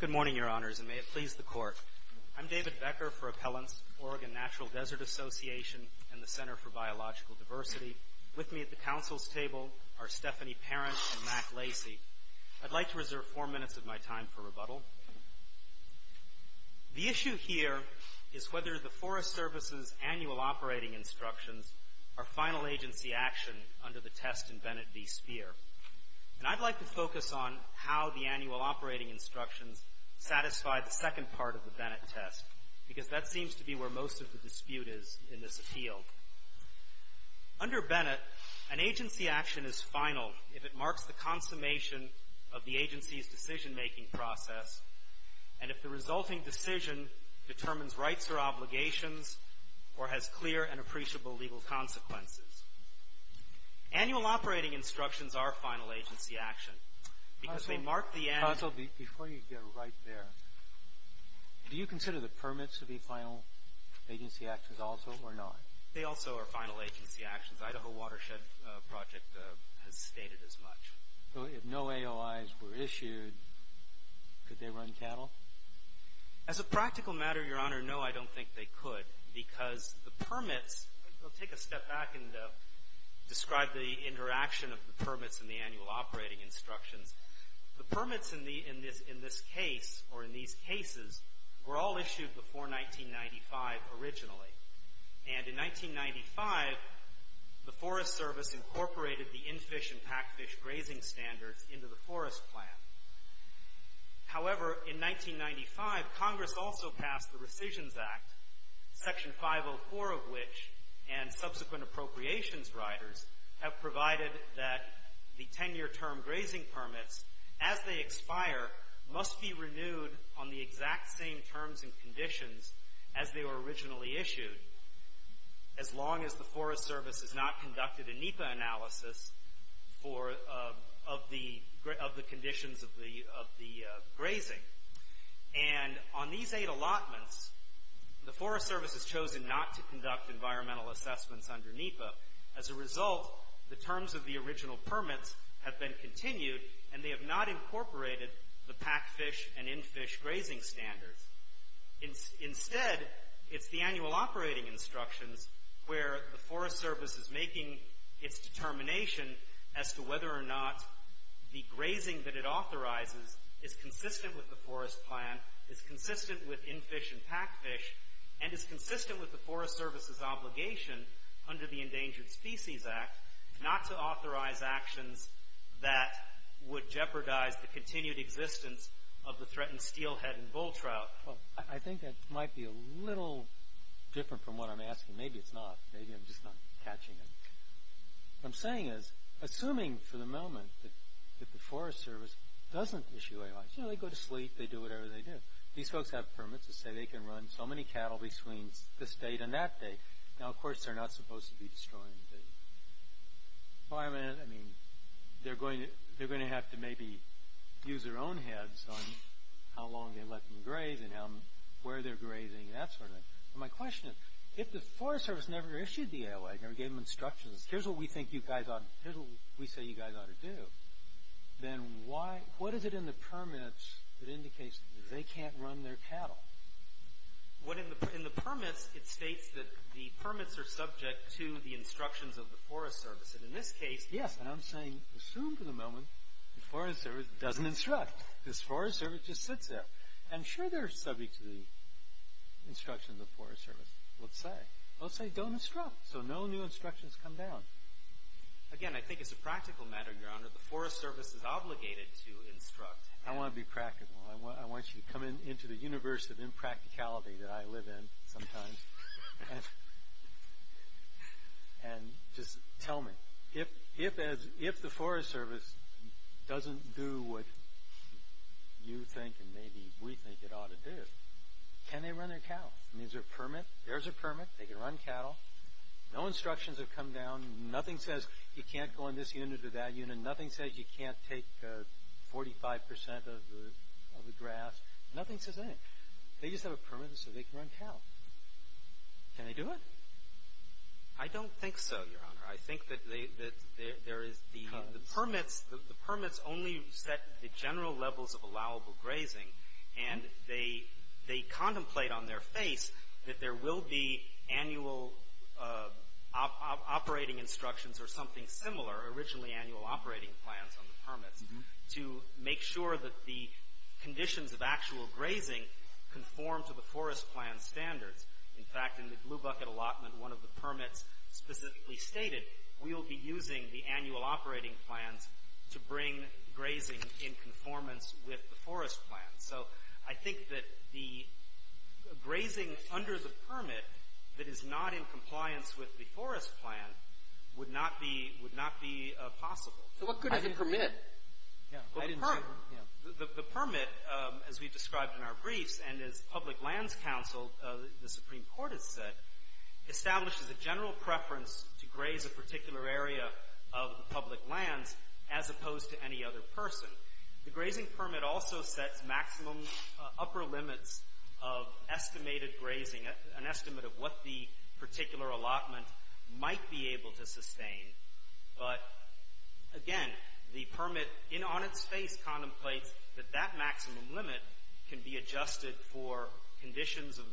Good morning, Your Honors, and may it please the Court. I'm David Becker for Appellants, Oregon Natural Desert Association, and the Center for Biological Diversity. With me at the council's table are Stephanie Parent and Mac Lacy. I'd like to reserve four minutes of my time for rebuttal. The issue here is whether the Forest Service's annual operating instructions are final agency action under the test in Bennett v. Speer. And I'd like to focus on how the annual operating instructions satisfy the second part of the Bennett test, because that seems to be where most of the dispute is in this appeal. Under Bennett, an agency action is final if it marks the consummation of the agency's decision-making process and if the resulting decision determines rights or obligations or has clear and appreciable legal consequences. Annual operating instructions are final agency action because they mark the end. Counsel, before you get right there, do you consider the permits to be final agency actions also or not? They also are final agency actions. Idaho Watershed Project has stated as much. So if no AOIs were issued, could they run cattle? As a practical matter, Your Honor, no, I don't think they could because the permits I'll take a step back and describe the interaction of the permits and the annual operating instructions. The permits in this case or in these cases were all issued before 1995 originally. And in 1995, the Forest Service incorporated the in-fish and pack-fish grazing standards into the Forest Plan. However, in 1995, Congress also passed the Rescissions Act, Section 504 of which and subsequent appropriations riders have provided that the 10-year term grazing permits, as they expire, must be renewed on the exact same terms and conditions as they were originally issued as long as the Forest Service has not conducted a NEPA analysis of the conditions of the grazing. And on these eight allotments, the Forest Service has chosen not to conduct environmental assessments under NEPA. As a result, the terms of the original permits have been continued and they have not incorporated the pack-fish and in-fish grazing standards. Instead, it's the annual operating instructions where the Forest Service is making its determination as to whether or not the grazing that it authorizes is consistent with the Forest Plan, is consistent with in-fish and pack-fish, and is consistent with the Forest Service's obligation under the Endangered Species Act not to authorize actions that would jeopardize the continued existence of the threatened steelhead and bull trout. I think that might be a little different from what I'm asking. Maybe it's not. Maybe I'm just not catching it. What I'm saying is, assuming for the moment that the Forest Service doesn't issue AIs, you know, they go to sleep, they do whatever they do. These folks have permits that say they can run so many cattle between this date and that date. Now, of course, they're not supposed to be destroying the environment. I mean, they're going to have to maybe use their own heads on how long they let them graze and where they're grazing and that sort of thing. My question is, if the Forest Service never issued the AOA, never gave them instructions, here's what we say you guys ought to do, then what is it in the permits that indicates that they can't run their cattle? In the permits, it states that the permits are subject to the instructions of the Forest Service. In this case, yes, and I'm saying assume for the moment the Forest Service doesn't instruct because the Forest Service just sits there. I'm sure they're subject to the instructions of the Forest Service, let's say. Let's say don't instruct so no new instructions come down. Again, I think it's a practical matter, Your Honor, the Forest Service is obligated to instruct. I want to be practical. I want you to come into the universe of impracticality that I live in sometimes and just tell me, if the Forest Service doesn't do what you think and maybe we think it ought to do, can they run their cattle? Is there a permit? There's a permit. They can run cattle. No instructions have come down. Nothing says you can't go in this unit or that unit. Nothing says you can't take 45% of the grass. Nothing says anything. They just have a permit so they can run cattle. Can they do it? I don't think so, Your Honor. I think that there is the permits only set the general levels of allowable grazing, and they contemplate on their face that there will be annual operating instructions or something similar, or originally annual operating plans on the permits, to make sure that the conditions of actual grazing conform to the Forest Plan standards. In fact, in the Blue Bucket Allotment, one of the permits specifically stated, we'll be using the annual operating plans to bring grazing in conformance with the Forest Plan. So I think that the grazing under the permit that is not in compliance with the Forest Plan would not be possible. So what could have been permitted? The permit, as we described in our briefs, and as Public Lands Council, the Supreme Court has said, establishes a general preference to graze a particular area of public lands as opposed to any other person. The grazing permit also sets maximum upper limits of estimated grazing, an estimate of what the particular allotment might be able to sustain. But again, the permit on its face contemplates that that maximum limit can be adjusted for conditions of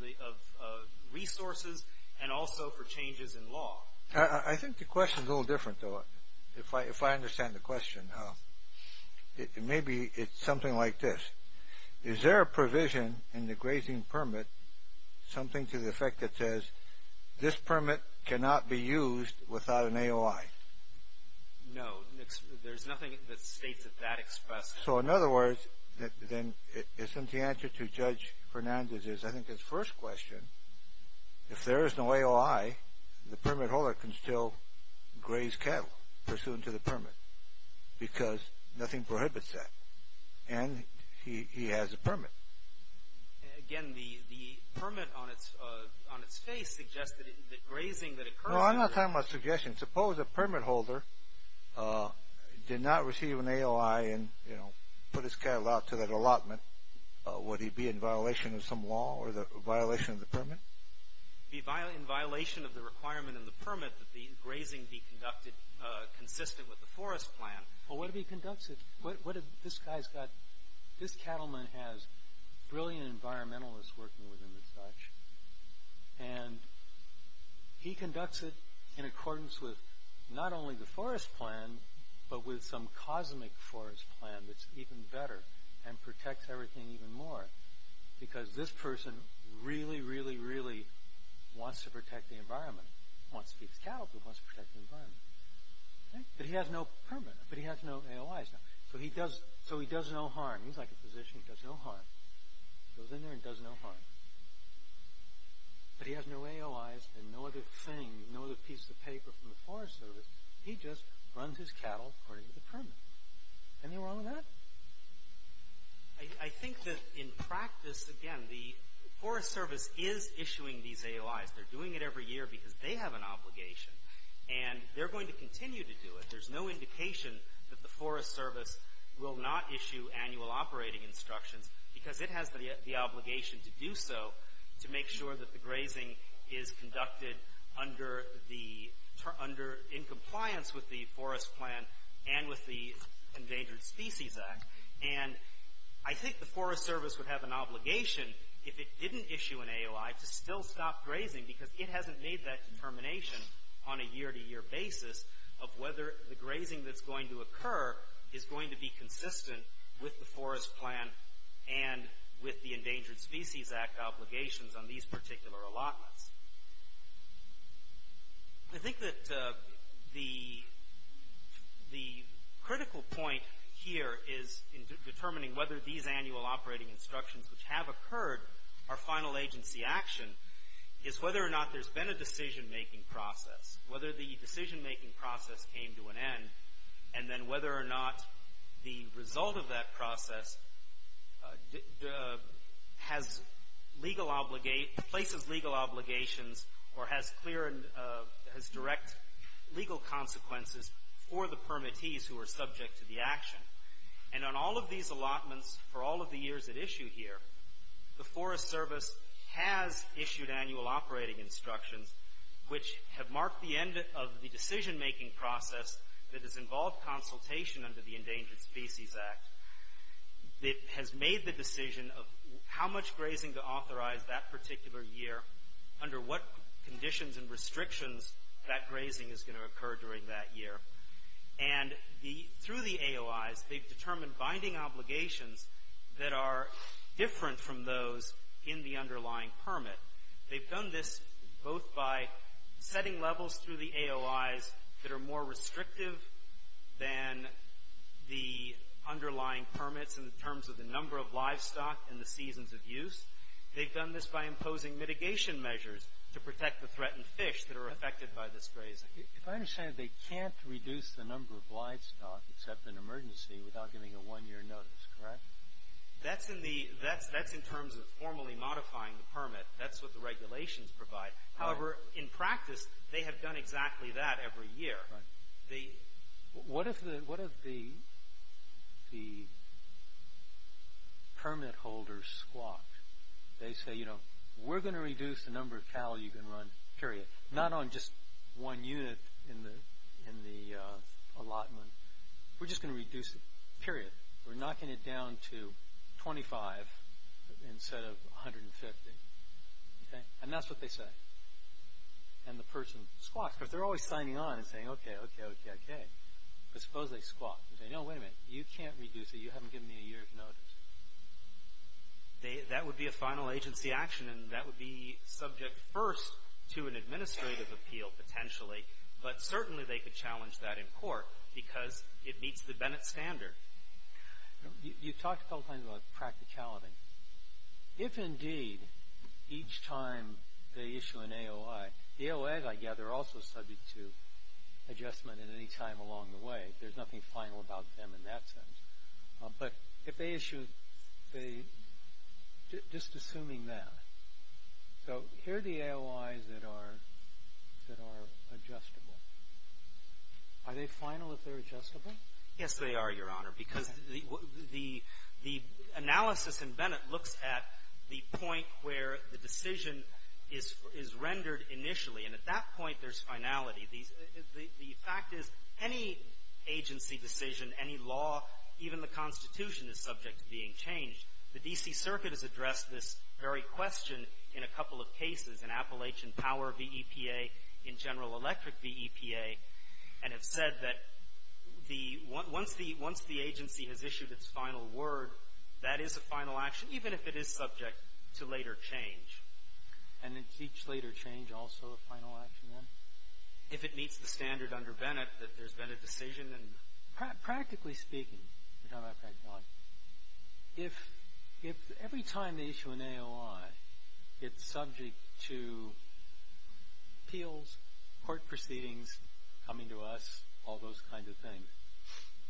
resources and also for changes in law. I think the question is a little different, though, if I understand the question. Maybe it's something like this. Is there a provision in the grazing permit, something to the effect that says, this permit cannot be used without an AOI? No, there's nothing that states that that expresses. So in other words, then isn't the answer to Judge Fernandez's, I think his first question, if there is no AOI, the permit holder can still graze cattle pursuant to the permit because nothing prohibits that. And he has a permit. Again, the permit on its face suggests that grazing that occurs... No, I'm not talking about suggestions. Suppose a permit holder did not receive an AOI and, you know, put his cattle out to that allotment. Would he be in violation of some law or the violation of the permit? In violation of the requirement in the permit that the grazing be conducted consistent with the forest plan. Well, what if he conducts it? This cattleman has brilliant environmentalists working with him and such, and he conducts it in accordance with not only the forest plan but with some cosmic forest plan that's even better and protects everything even more because this person really, really, really wants to protect the environment. He wants to feed his cattle, but he wants to protect the environment. But he has no permit, but he has no AOIs. So he does no harm. He's like a physician. He does no harm. He goes in there and does no harm. But he has no AOIs and no other thing, no other piece of paper from the Forest Service. He just runs his cattle according to the permit. Anything wrong with that? I think that in practice, again, the Forest Service is issuing these AOIs. They're doing it every year because they have an obligation. And they're going to continue to do it. There's no indication that the Forest Service will not issue annual operating instructions because it has the obligation to do so to make sure that the grazing is conducted in compliance with the forest plan and with the Endangered Species Act. And I think the Forest Service would have an obligation if it didn't issue an AOI to still stop grazing because it hasn't made that determination on a year-to-year basis of whether the grazing that's going to occur is going to be consistent with the forest plan and with the Endangered Species Act obligations on these particular allotments. I think that the critical point here is in determining whether these annual operating instructions which have occurred are final agency action is whether or not there's been a decision-making process, whether the decision-making process came to an end, and then whether or not the result of that process places legal obligations or has direct legal consequences for the permittees who are subject to the action. And on all of these allotments for all of the years at issue here, the Forest Service has issued annual operating instructions which have marked the end of the decision-making process that has involved consultation under the Endangered Species Act that has made the decision of how much grazing to authorize that particular year, under what conditions and restrictions that grazing is going to occur during that year. And through the AOIs, they've determined binding obligations that are different from those in the underlying permit. They've done this both by setting levels through the AOIs that are more restrictive than the underlying permits in terms of the number of livestock and the seasons of use. They've done this by imposing mitigation measures to protect the threatened fish that are affected by this grazing. If I understand it, they can't reduce the number of livestock except in emergency without giving a one-year notice, correct? That's in terms of formally modifying the permit. That's what the regulations provide. However, in practice, they have done exactly that every year. What if the permit holders squawk? They say, you know, we're going to reduce the number of cattle you can run, period. Not on just one unit in the allotment. We're just going to reduce it, period. We're knocking it down to 25 instead of 150. And that's what they say. And the person squawks because they're always signing on and saying, okay, okay, okay, okay. But suppose they squawk. They say, no, wait a minute. You can't reduce it. You haven't given me a year's notice. That would be a final agency action, and that would be subject first to an administrative appeal potentially. But certainly they could challenge that in court because it meets the Bennett Standard. You talked a couple times about practicality. If indeed each time they issue an AOI, AOAs, I gather, are also subject to adjustment at any time along the way. There's nothing final about them in that sense. But if they issue, just assuming that. So here are the AOIs that are adjustable. Are they final if they're adjustable? Yes, they are, Your Honor, because the analysis in Bennett looks at the point where the decision is rendered initially. And at that point, there's finality. The fact is any agency decision, any law, even the Constitution is subject to being changed. The D.C. Circuit has addressed this very question in a couple of cases, in Appalachian Power v. EPA, in General Electric v. EPA, and have said that once the agency has issued its final word, that is a final action, even if it is subject to later change. And is each later change also a final action then? If it meets the standard under Bennett that there's been a decision, then. Practically speaking, you're talking about practicality. If every time they issue an AOI, it's subject to appeals, court proceedings coming to us, all those kinds of things.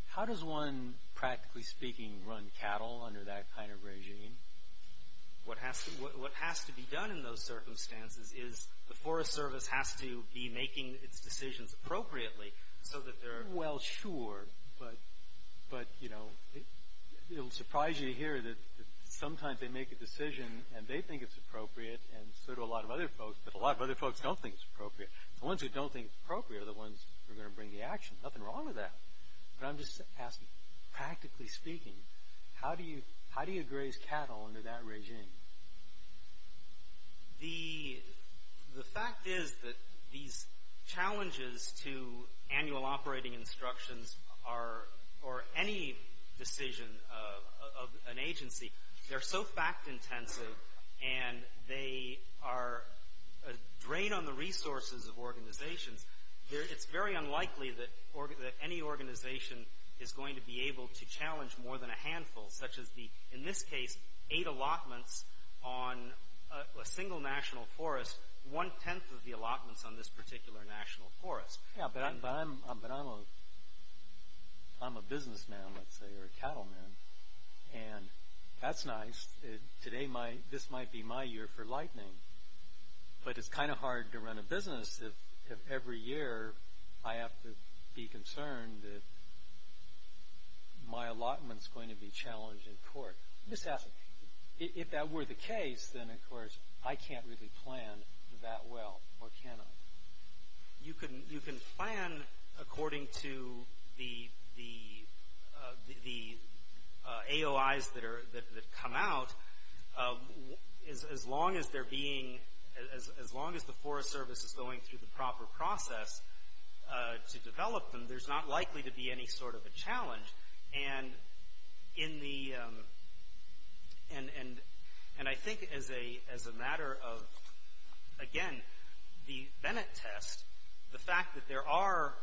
How does one, practically speaking, run cattle under that kind of regime? What has to be done in those circumstances is the Forest Service has to be making its decisions appropriately so that they're- Well, sure, but, you know, it'll surprise you to hear that sometimes they make a decision, and they think it's appropriate, and so do a lot of other folks, but a lot of other folks don't think it's appropriate. The ones who don't think it's appropriate are the ones who are going to bring the action. Nothing wrong with that. But I'm just asking, practically speaking, how do you graze cattle under that regime? The fact is that these challenges to annual operating instructions are, or any decision of an agency, they're so fact-intensive, and they are a drain on the resources of organizations. It's very unlikely that any organization is going to be able to challenge more than a handful, such as the, in this case, eight allotments on a single national forest, one-tenth of the allotments on this particular national forest. Yeah, but I'm a businessman, let's say, or a cattleman, and that's nice. This might be my year for lightning, but it's kind of hard to run a business if every year I have to be concerned that my allotment's going to be challenged in court. I'm just asking, if that were the case, then, of course, I can't really plan that well, or can I? You can plan according to the AOIs that come out, as long as they're being, as long as the Forest Service is going through the proper process to develop them, there's not likely to be any sort of a challenge. And in the, and I think as a matter of, again, the Bennett test, the fact that there are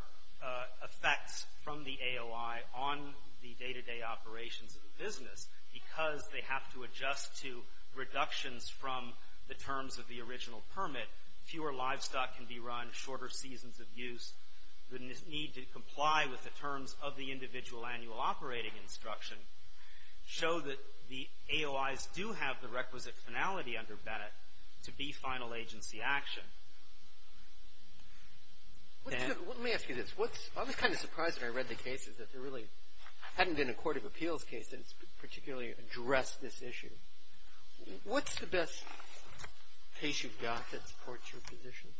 effects from the AOI on the day-to-day operations of the business because they have to adjust to reductions from the terms of the original permit, fewer livestock can be run, shorter seasons of use, the need to comply with the terms of the individual annual operating instruction, show that the AOIs do have the requisite finality under Bennett to be final agency action. Let me ask you this. I was kind of surprised when I read the cases that there really hadn't been a court of appeals case that particularly addressed this issue. What's the best case you've got that supports your position?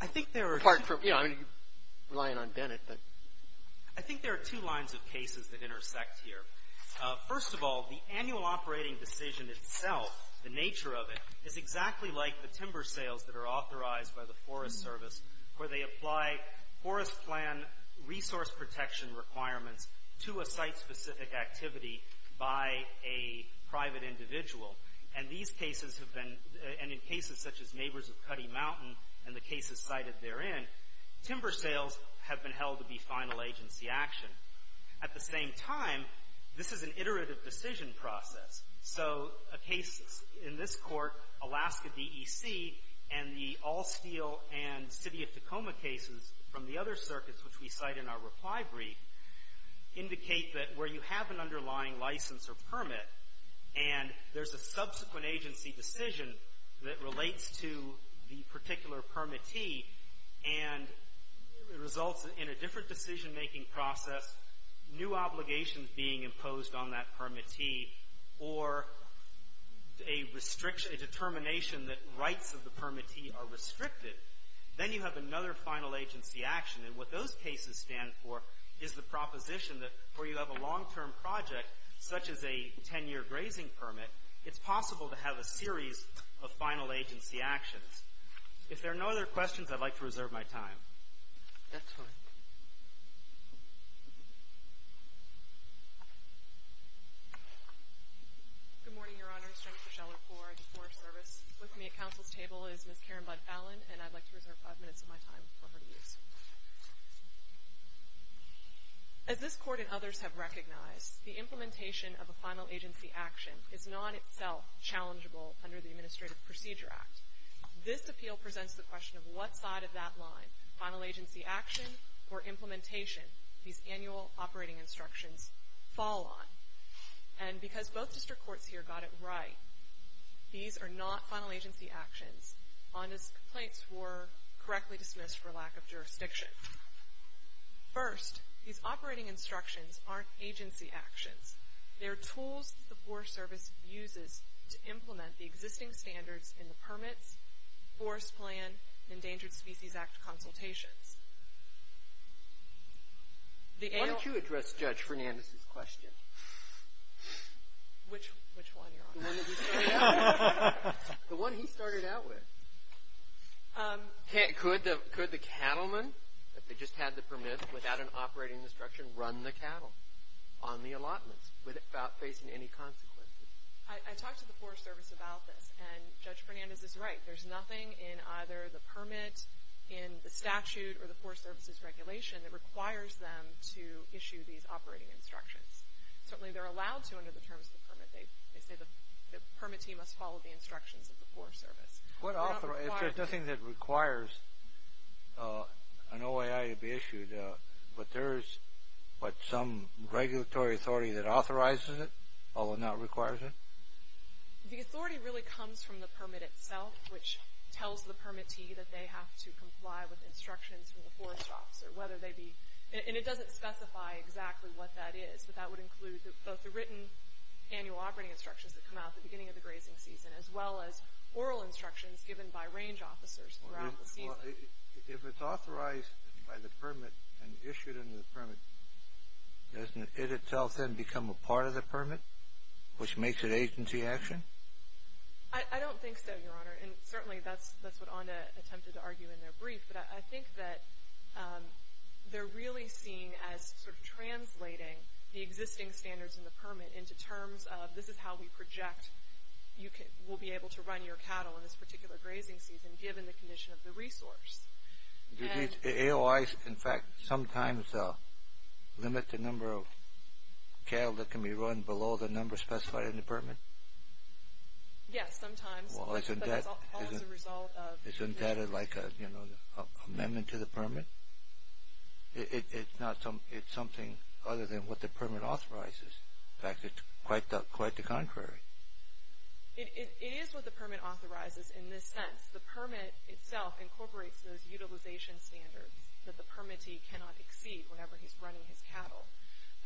I think there are two lines of cases that intersect here. First of all, the annual operating decision itself, the nature of it, is exactly like the timber sales that are authorized by the Forest Service where they apply forest plan resource protection requirements to a site-specific activity by a private individual. And these cases have been, and in cases such as Neighbors of Cuddy Mountain and the cases cited therein, timber sales have been held to be final agency action. At the same time, this is an iterative decision process. So a case in this court, Alaska DEC, and the All Steel and City of Tacoma cases from the other circuits, which we cite in our reply brief, indicate that where you have an underlying license or permit and there's a subsequent agency decision that relates to the particular permittee and results in a different decision-making process, new obligations being imposed on that permittee, or a determination that rights of the permittee are restricted, then you have another final agency action. And what those cases stand for is the proposition that where you have a long-term project, such as a 10-year grazing permit, it's possible to have a series of final agency actions. If there are no other questions, I'd like to reserve my time. That's fine. Good morning, Your Honors. Jennifer Sheller for the Forest Service. With me at counsel's table is Ms. Karen Budd-Allen, and I'd like to reserve five minutes of my time for her to use. As this court and others have recognized, the implementation of a final agency action is not itself challengeable under the Administrative Procedure Act. This appeal presents the question of what side of that line, final agency action or implementation, these annual operating instructions fall on. And because both district courts here got it right, these are not final agency actions, on as complaints were correctly dismissed for lack of jurisdiction. First, these operating instructions aren't agency actions. They're tools the Forest Service uses to implement the existing standards in the Permits, Forest Plan, and Endangered Species Act consultations. Why don't you address Judge Fernandez's question? Which one, Your Honor? The one that he started out with. Could the cattleman, if they just had the permit, without an operating instruction, run the cattle on the allotments without facing any consequences? I talked to the Forest Service about this, and Judge Fernandez is right. There's nothing in either the permit, in the statute, or the Forest Service's regulation that requires them to issue these operating instructions. Certainly, they're allowed to under the terms of the permit. They say the permitee must follow the instructions of the Forest Service. If there's nothing that requires an OAI to be issued, but there is some regulatory authority that authorizes it, although not requires it? The authority really comes from the permit itself, which tells the permittee that they have to comply with instructions from the Forest Office. And it doesn't specify exactly what that is, but that would include both the written annual operating instructions that come out at the beginning of the grazing season, as well as oral instructions given by range officers throughout the season. If it's authorized by the permit and issued under the permit, doesn't it itself then become a part of the permit, which makes it agency action? I don't think so, Your Honor. Certainly, that's what ONDA attempted to argue in their brief, but I think that they're really seen as sort of translating the existing standards in the permit into terms of this is how we project we'll be able to run your cattle in this particular grazing season, given the condition of the resource. Do these AOIs, in fact, sometimes limit the number of cattle that can be run below the number specified in the permit? Yes, sometimes. Well, isn't that like an amendment to the permit? It's something other than what the permit authorizes. In fact, it's quite the contrary. It is what the permit authorizes in this sense. The permit itself incorporates those utilization standards that the permittee cannot exceed whenever he's running his cattle.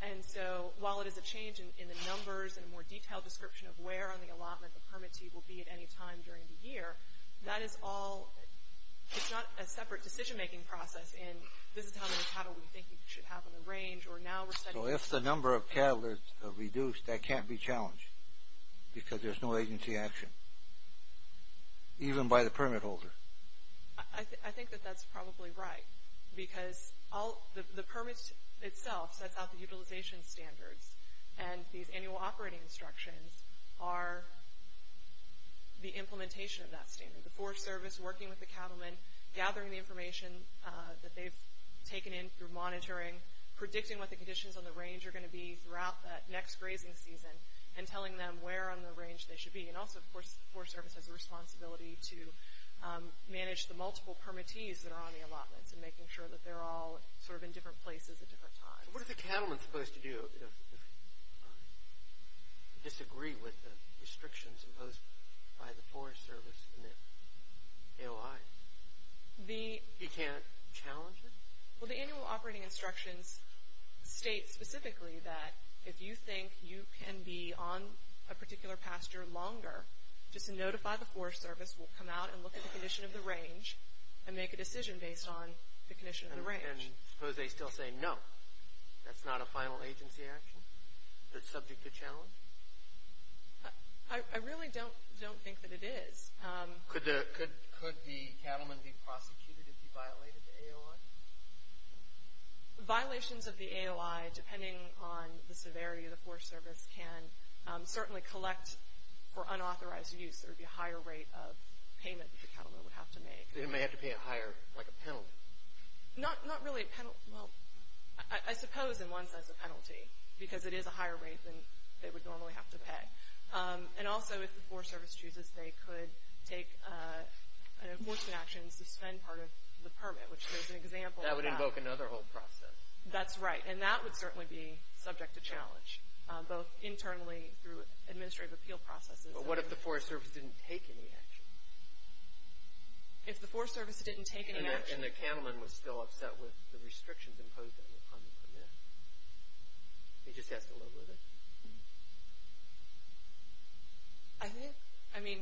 And so while it is a change in the numbers and a more detailed description of where on the allotment the permittee will be at any time during the year, that is all ñ it's not a separate decision-making process in this is how many cattle we think we should have on the range. So if the number of cattle is reduced, that can't be challenged because there's no agency action, even by the permit holder. I think that that's probably right because the permit itself sets out the utilization standards and these annual operating instructions are the implementation of that standard. The Forest Service working with the cattlemen, gathering the information that they've taken in through monitoring, predicting what the conditions on the range are going to be throughout that next grazing season, and telling them where on the range they should be. And also, of course, the Forest Service has a responsibility to manage the multiple permittees that are on the allotments and making sure that they're all sort of in different places at different times. What are the cattlemen supposed to do if they disagree with the restrictions imposed by the Forest Service and the AOI? He can't challenge it? Well, the annual operating instructions state specifically that if you think you can be on a particular pasture longer, just notify the Forest Service, we'll come out and look at the condition of the range and make a decision based on the condition of the range. And suppose they still say no? That's not a final agency action that's subject to challenge? I really don't think that it is. Could the cattlemen be prosecuted if you violated the AOI? Violations of the AOI, depending on the severity of the Forest Service, can certainly collect for unauthorized use. There would be a higher rate of payment that the cattlemen would have to make. They may have to pay a higher, like a penalty? Not really a penalty. Well, I suppose in one sense a penalty, because it is a higher rate than they would normally have to pay. And also if the Forest Service chooses, they could take an enforcement action and suspend part of the permit, which is an example of that. That would invoke another whole process. That's right, and that would certainly be subject to challenge, both internally through administrative appeal processes. But what if the Forest Service didn't take any action? If the Forest Service didn't take any action? And the cattleman was still upset with the restrictions imposed on the permit? He just has to live with it? I think, I mean,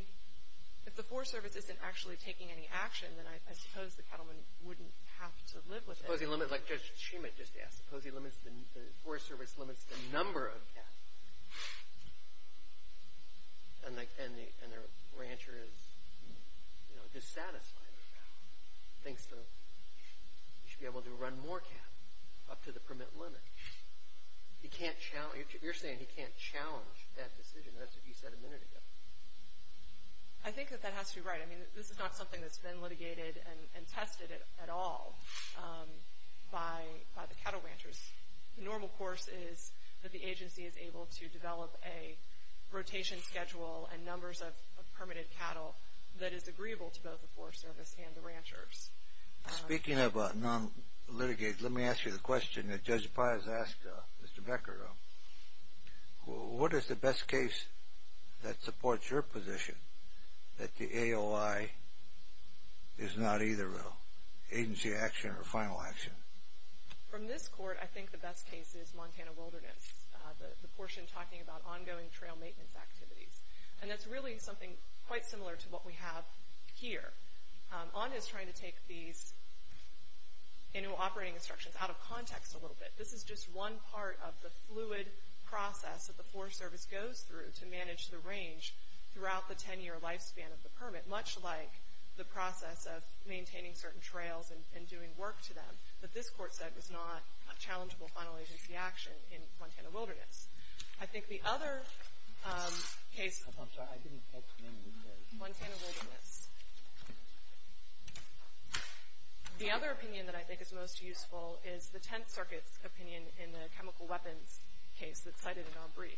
if the Forest Service isn't actually taking any action, then I suppose the cattlemen wouldn't have to live with it. Suppose he limits, like Judge Schumann just asked, suppose the Forest Service limits the number of calves, and the rancher is dissatisfied with the cattle, and thinks that he should be able to run more cattle up to the permit limit. He can't challenge, you're saying he can't challenge that decision. That's what you said a minute ago. I think that that has to be right. I mean, this is not something that's been litigated and tested at all by the cattle ranchers. The normal course is that the agency is able to develop a rotation schedule and numbers of permitted cattle that is agreeable to both the Forest Service and the ranchers. Speaking of non-litigate, let me ask you the question that Judge Paz asked Mr. Becker. What is the best case that supports your position that the AOI is not either an agency action or a final action? From this court, I think the best case is Montana Wilderness, the portion talking about ongoing trail maintenance activities. And that's really something quite similar to what we have here. ONDA is trying to take these annual operating instructions out of context a little bit. This is just one part of the fluid process that the Forest Service goes through to manage the range throughout the 10-year lifespan of the permit, much like the process of maintaining certain trails and doing work to them that this court said was not a challengeable final agency action in Montana Wilderness. I think the other case... I'm sorry, I didn't catch the name of the... Montana Wilderness. The other opinion that I think is most useful is the Tenth Circuit's opinion in the chemical weapons case that cited in Embree.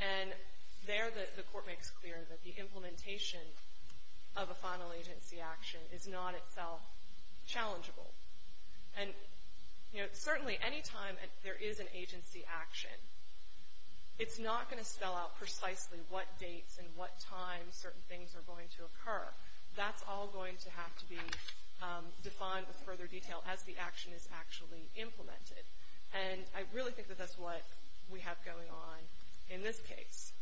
And there the court makes clear that the implementation of a final agency action is not itself challengeable. And certainly any time there is an agency action, it's not going to spell out precisely what dates and what times certain things are going to occur. That's all going to have to be defined with further detail as the action is actually implemented. And I really think that that's what we have going on in this case.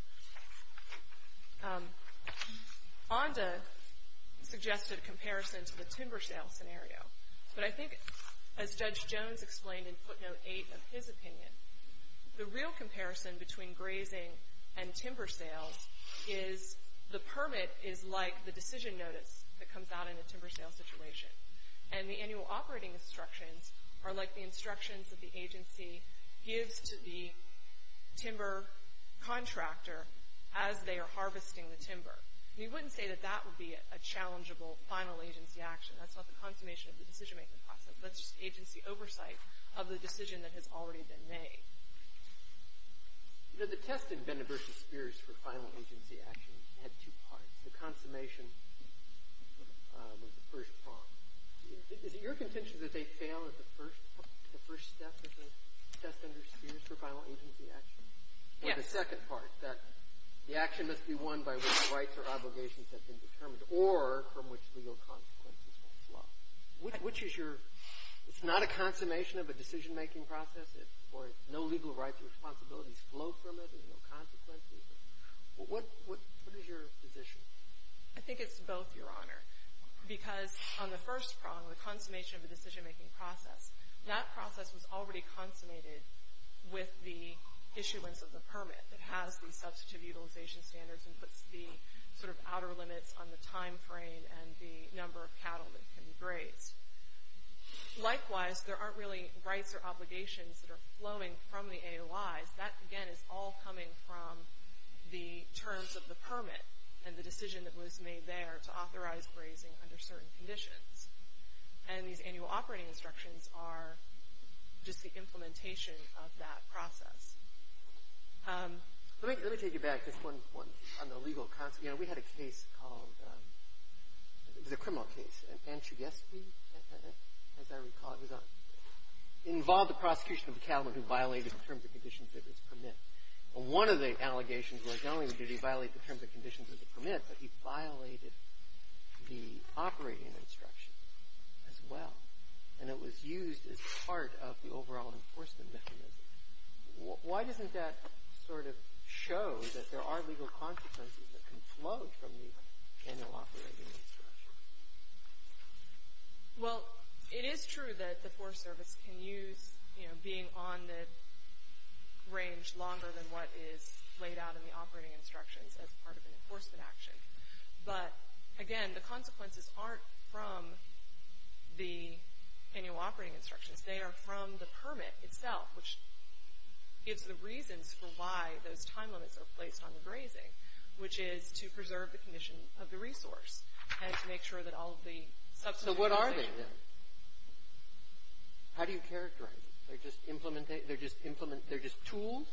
Onda suggested a comparison to the timber sale scenario. But I think, as Judge Jones explained in footnote 8 of his opinion, the real comparison between grazing and timber sales is the permit is like the decision notice that comes out in a timber sale situation. And the annual operating instructions are like the instructions that the agency gives to the timber contractor as they are harvesting the timber. And you wouldn't say that that would be a challengeable final agency action. That's not the consummation of the decision-making process. That's just agency oversight of the decision that has already been made. You know, the test in Benda v. Spears for final agency action had two parts. The consummation was the first part. Is it your contention that they fail at the first step of the test under Spears for final agency action? Yes. Or the second part, that the action must be won by which rights or obligations have been determined or from which legal consequences will flow? Which is your — it's not a consummation of a decision-making process, or no legal rights or responsibilities flow from it, there's no consequences. What is your position? I think it's both, Your Honor. Because on the first prong, the consummation of the decision-making process, that process was already consummated with the issuance of the permit that has the substantive utilization standards and puts the sort of outer limits on the time frame and the number of cattle that can be grazed. Likewise, there aren't really rights or obligations that are flowing from the AOIs. That, again, is all coming from the terms of the permit and the decision that was made there to authorize grazing under certain conditions. And these annual operating instructions are just the implementation of that process. Let me take you back just one point on the legal consequences. You know, we had a case called — it was a criminal case. As I recall, it was on — involved the prosecution of a cattleman who violated the terms and conditions of his permit. One of the allegations was not only did he violate the terms and conditions of the permit, but he violated the operating instruction as well. And it was used as part of the overall enforcement mechanism. Why doesn't that sort of show that there are legal consequences that can flow from the annual operating instructions? Well, it is true that the Forest Service can use, you know, being on the range longer than what is laid out in the operating instructions as part of an enforcement action. But, again, the consequences aren't from the annual operating instructions. They are from the permit itself, which gives the reasons for why those time limits are placed on the grazing, which is to preserve the condition of the resource and to make sure that all of the substantive — So what are they, then? How do you characterize them? They're just tools?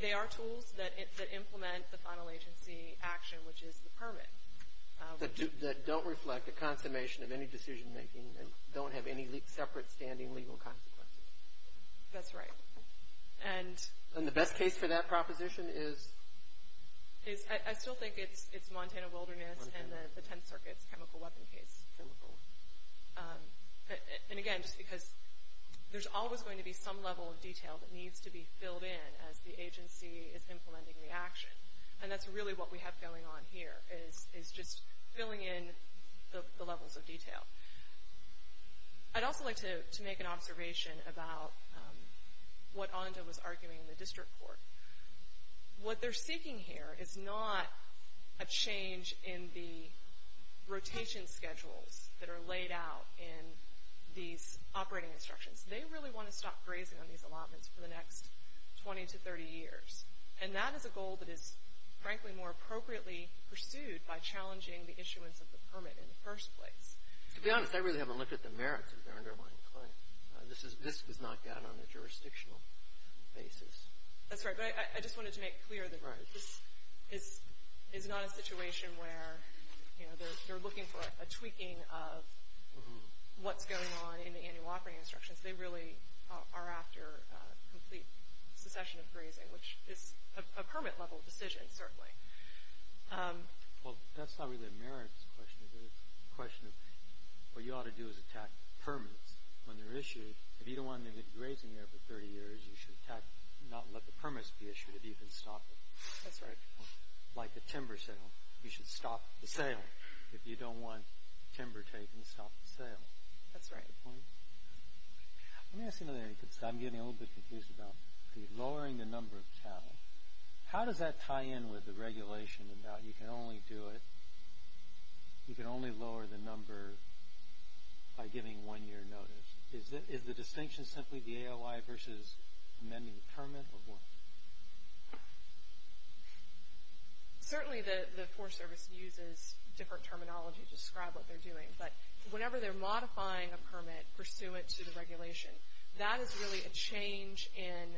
They are tools that implement the final agency action, which is the permit. That don't reflect a consummation of any decision-making and don't have any separate standing legal consequences. That's right. And the best case for that proposition is? I still think it's Montana Wilderness and the Tenth Circuit's chemical weapon case. Chemical. And, again, just because there's always going to be some level of detail that needs to be filled in as the agency is implementing the action. And that's really what we have going on here, is just filling in the levels of detail. I'd also like to make an observation about what Onda was arguing in the district court. What they're seeking here is not a change in the rotation schedules that are laid out in these operating instructions. They really want to stop grazing on these allotments for the next 20 to 30 years. And that is a goal that is, frankly, more appropriately pursued by challenging the issuance of the permit in the first place. To be honest, I really haven't looked at the merits of their underlying claim. This was knocked out on a jurisdictional basis. That's right. But I just wanted to make clear that this is not a situation where, you know, they're looking for a tweaking of what's going on in the annual operating instructions. They really are after complete succession of grazing, which is a permit-level decision, certainly. Well, that's not really a merits question. It's a question of what you ought to do is attack the permits when they're issued. If you don't want them to get grazing there for 30 years, you should not let the permits be issued if you can stop it. That's right. Like the timber sale. You should stop the sale if you don't want timber taken to stop the sale. That's right. Let me ask you another thing. I'm getting a little bit confused about the lowering the number of cattle. How does that tie in with the regulation about you can only do it, you can only lower the number by giving one-year notice? Is the distinction simply the AOI versus amending the permit? Certainly the Forest Service uses different terminology to describe what they're doing. But whenever they're modifying a permit pursuant to the regulation, that is really a change in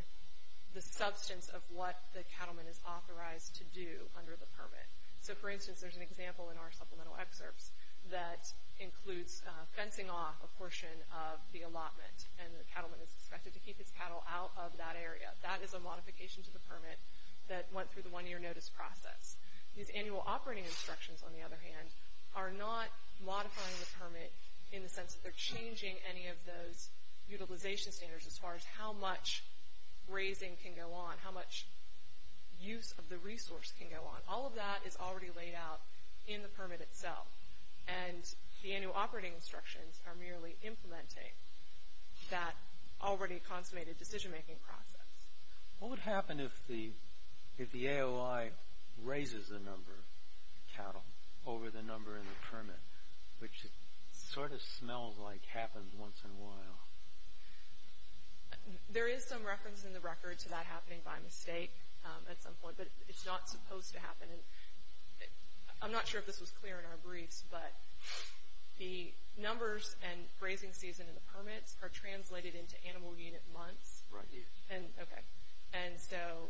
the substance of what the cattleman is authorized to do under the permit. So, for instance, there's an example in our supplemental excerpts that includes fencing off a portion of the allotment, and the cattleman is expected to keep his cattle out of that area. That is a modification to the permit that went through the one-year notice process. These annual operating instructions, on the other hand, are not modifying the permit in the sense that they're changing any of those utilization standards as far as how much grazing can go on, how much use of the resource can go on. All of that is already laid out in the permit itself, and the annual operating instructions are merely implementing that already consummated decision-making process. What would happen if the AOI raises the number of cattle over the number in the permit, which sort of smells like happens once in a while? There is some reference in the record to that happening by mistake at some point, but it's not supposed to happen. I'm not sure if this was clear in our briefs, but the numbers and grazing season and the permits are translated into animal unit months. Right, yes. Okay. And so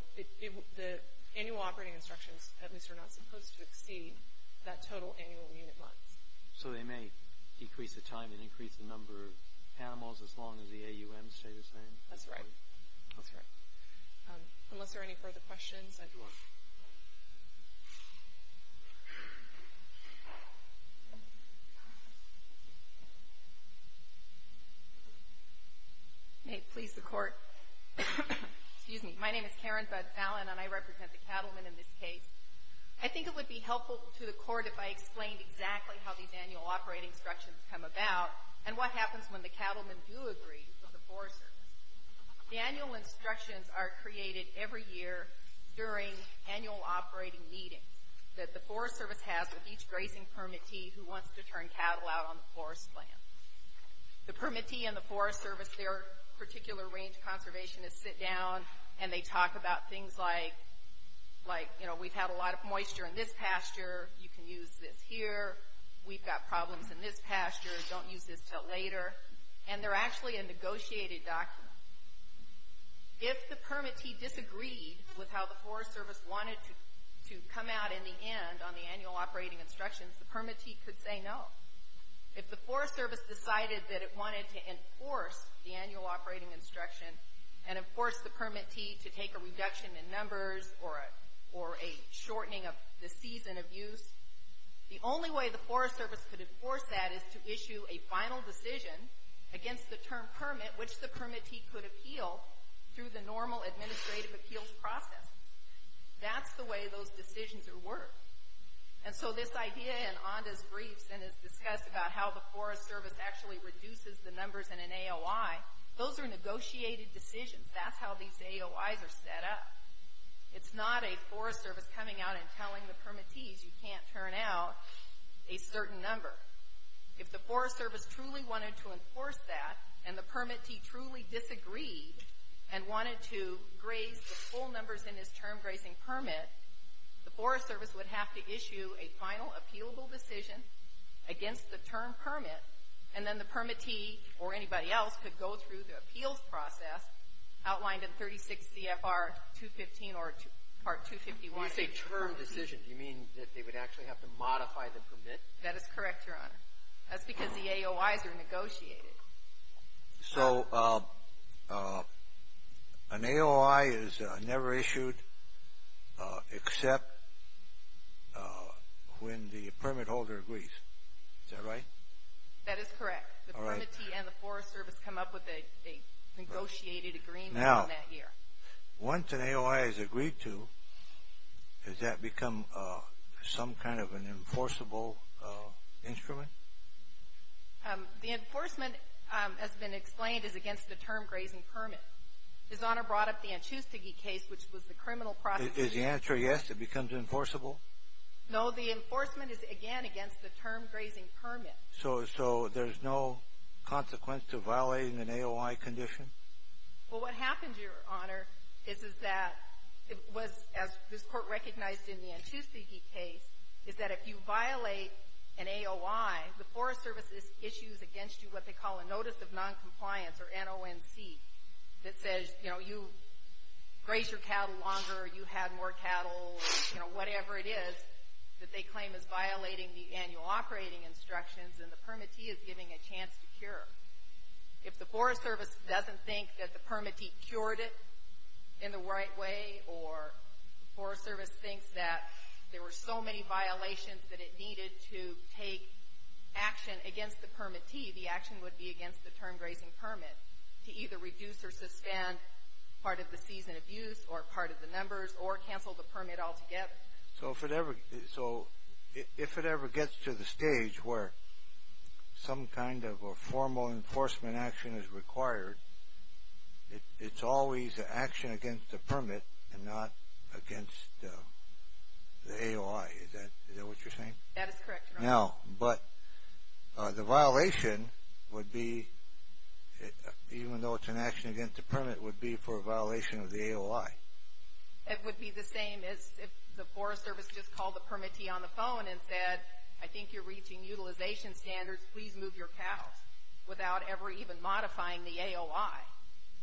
the annual operating instructions, at least, are not supposed to exceed that total annual unit month. So they may decrease the time and increase the number of animals as long as the AUM stays the same? That's right. That's right. Unless there are any further questions, I do want to... May it please the Court. Excuse me. My name is Karen Budd-Fallon, and I represent the cattlemen in this case. I think it would be helpful to the Court if I explained exactly how these annual operating instructions come about and what happens when the cattlemen do agree with the Forest Service. The annual instructions are created every year during annual operating meetings that the Forest Service has with each grazing permittee who wants to turn cattle out on the forest land. The permittee and the Forest Service, their particular range conservationists, sit down and they talk about things like, you know, we've had a lot of moisture in this pasture, you can use this here, we've got problems in this pasture, don't use this till later. And they're actually a negotiated document. If the permittee disagreed with how the Forest Service wanted to come out in the end on the annual operating instructions, the permittee could say no. If the Forest Service decided that it wanted to enforce the annual operating instruction and enforce the permittee to take a reduction in numbers or a shortening of the season of use, the only way the Forest Service could enforce that is to issue a final decision against the term permit, which the permittee could appeal through the normal administrative appeals process. That's the way those decisions are worked. And so this idea in Onda's briefs and is discussed about how the Forest Service actually reduces the numbers in an AOI, those are negotiated decisions. That's how these AOIs are set up. It's not a Forest Service coming out and telling the permittees you can't turn out a certain number. If the Forest Service truly wanted to enforce that and the permittee truly disagreed and wanted to graze the full numbers in this term grazing permit, the Forest Service would have to issue a final appealable decision against the term permit, and then the permittee or anybody else could go through the appeals process outlined in 36 CFR 215 or Part 251. Kennedy. You say term decision. Do you mean that they would actually have to modify the permit? That is correct, Your Honor. That's because the AOIs are negotiated. So an AOI is never issued except when the permit holder agrees. Is that right? That is correct. The permittee and the Forest Service come up with a negotiated agreement on that year. Now, once an AOI is agreed to, does that become some kind of an enforceable instrument? The enforcement, as has been explained, is against the term grazing permit. His Honor brought up the Anchustige case, which was the criminal process. Is the answer yes, it becomes enforceable? No, the enforcement is, again, against the term grazing permit. So there's no consequence to violating an AOI condition? Well, what happened, Your Honor, is that it was, as this Court recognized in the Anchustige case, is that if you violate an AOI, the Forest Service issues against you what they call a notice of noncompliance, or NONC, that says, you know, you graze your cattle longer, you have more cattle, you know, whatever it is that they claim is violating the annual operating instructions and the permittee is giving a chance to cure. If the Forest Service doesn't think that the permittee cured it in the right way or the Forest Service thinks that there were so many violations that it needed to take action against the permittee, the action would be against the term grazing permit to either reduce or suspend part of the season of use or part of the numbers or cancel the permit altogether. So if it ever gets to the stage where some kind of a formal enforcement action is required, it's always an action against the permit and not against the AOI. Is that what you're saying? That is correct, Your Honor. Now, but the violation would be, even though it's an action against the permit, would be for a violation of the AOI. It would be the same as if the Forest Service just called the permittee on the phone and said, I think you're reaching utilization standards. Please move your cows without ever even modifying the AOI.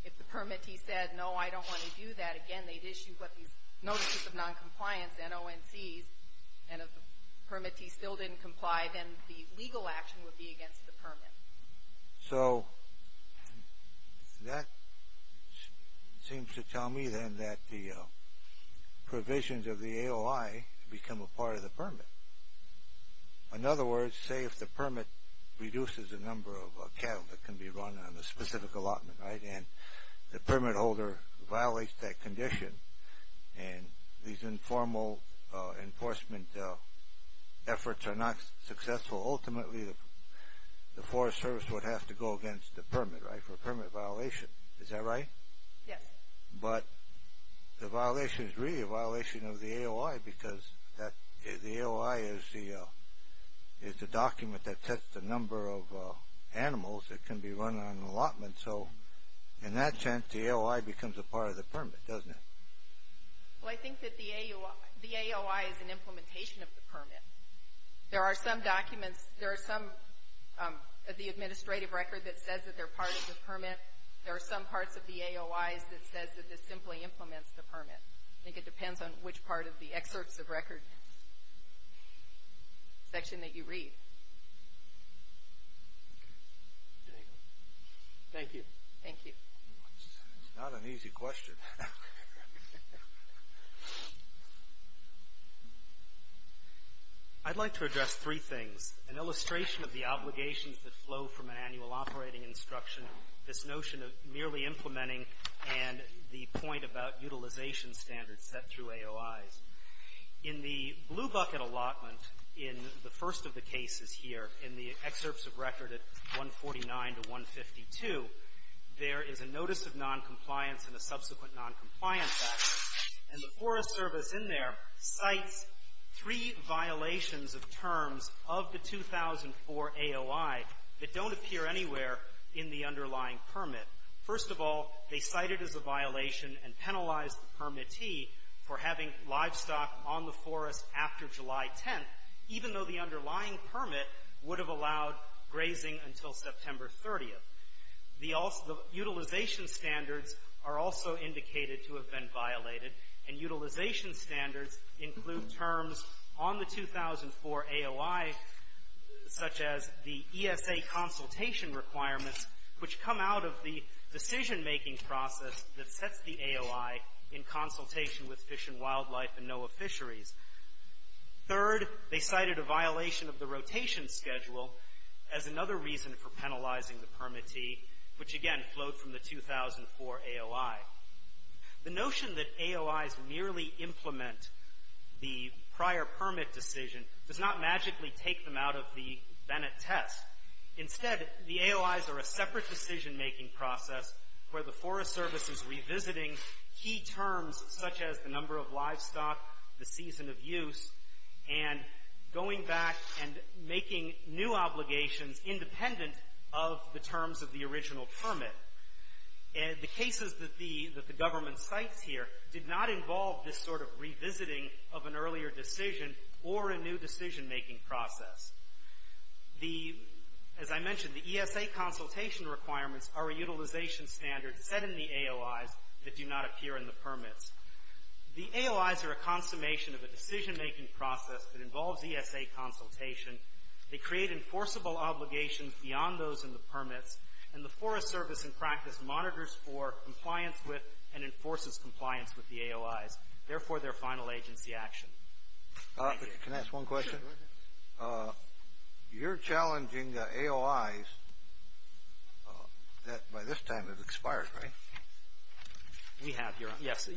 If the permittee said, no, I don't want to do that again, they'd issue what these notices of noncompliance, NONCs, and if the permittee still didn't comply, then the legal action would be against the permit. So that seems to tell me then that the provisions of the AOI become a part of the permit. In other words, say if the permit reduces the number of cattle that can be run on a specific allotment, right, and the permit holder violates that condition, and these informal enforcement efforts are not successful, ultimately the Forest Service would have to go against the permit, right, for a permit violation. Is that right? Yes. But the violation is really a violation of the AOI because the AOI is the document that sets the number of animals that can be run on an allotment. So in that sense, the AOI becomes a part of the permit, doesn't it? There are some documents, there are some of the administrative record that says that they're part of the permit. There are some parts of the AOIs that says that this simply implements the permit. I think it depends on which part of the excerpts of record section that you read. Thank you. Thank you. That's not an easy question. I'd like to address three things. An illustration of the obligations that flow from an annual operating instruction, this notion of merely implementing, and the point about utilization standards set through AOIs. In the blue bucket allotment in the first of the cases here, in the excerpts of record at 149 to 152, there is a notice of noncompliance and a subsequent noncompliance action, and the Forest Service in there cites three violations of terms of the 2004 AOI that don't appear anywhere in the underlying permit. First of all, they cite it as a violation and penalize the permittee for having livestock on the forest after July 10th, even though the underlying permit would have allowed grazing until September 30th. The utilization standards are also indicated to have been violated, and utilization standards include terms on the 2004 AOI, such as the ESA consultation requirements, which come out of the decision-making process that sets the AOI in consultation with Fish and Wildlife and NOAA Fisheries. Third, they cited a violation of the rotation schedule as another reason for penalizing the permittee, which again flowed from the 2004 AOI. The notion that AOIs merely implement the prior permit decision does not magically take them out of the Bennett test. Instead, the AOIs are a separate decision-making process where the Forest Service is revisiting key terms, such as the number of livestock, the season of use, and going back and making new obligations independent of the terms of the original permit. The cases that the government cites here did not involve this sort of revisiting of an earlier decision or a new decision-making process. As I mentioned, the ESA consultation requirements are a utilization standard set in the AOIs that do not appear in the permits. The AOIs are a consummation of a decision-making process that involves ESA consultation. They create enforceable obligations beyond those in the permits, and the Forest Service in practice monitors for, compliance with, and enforces compliance with the AOIs, therefore their final agency action. Can I ask one question? You're challenging the AOIs that by this time have expired, right? We have, yes.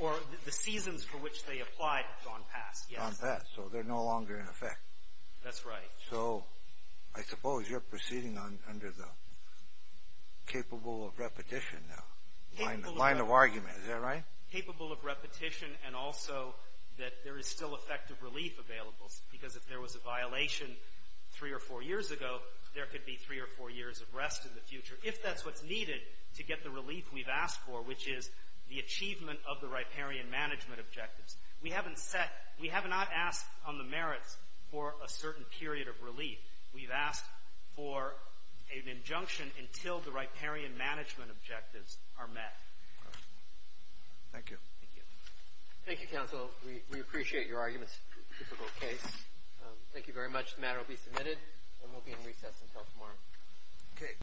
Or the seasons for which they applied have gone past, yes. Gone past, so they're no longer in effect. That's right. So, I suppose you're proceeding under the capable of repetition now, line of argument, is that right? Capable of repetition and also that there is still effective relief available, because if there was a violation three or four years ago, there could be three or four years of rest in the future, if that's what's needed to get the relief we've asked for, which is the achievement of the riparian management objectives. We haven't set, we have not asked on the merits for a certain period of relief. We've asked for an injunction until the riparian management objectives are met. Thank you. Thank you. Thank you, counsel. We appreciate your arguments. It's a difficult case. Thank you very much. The matter will be submitted and will be in recess until tomorrow.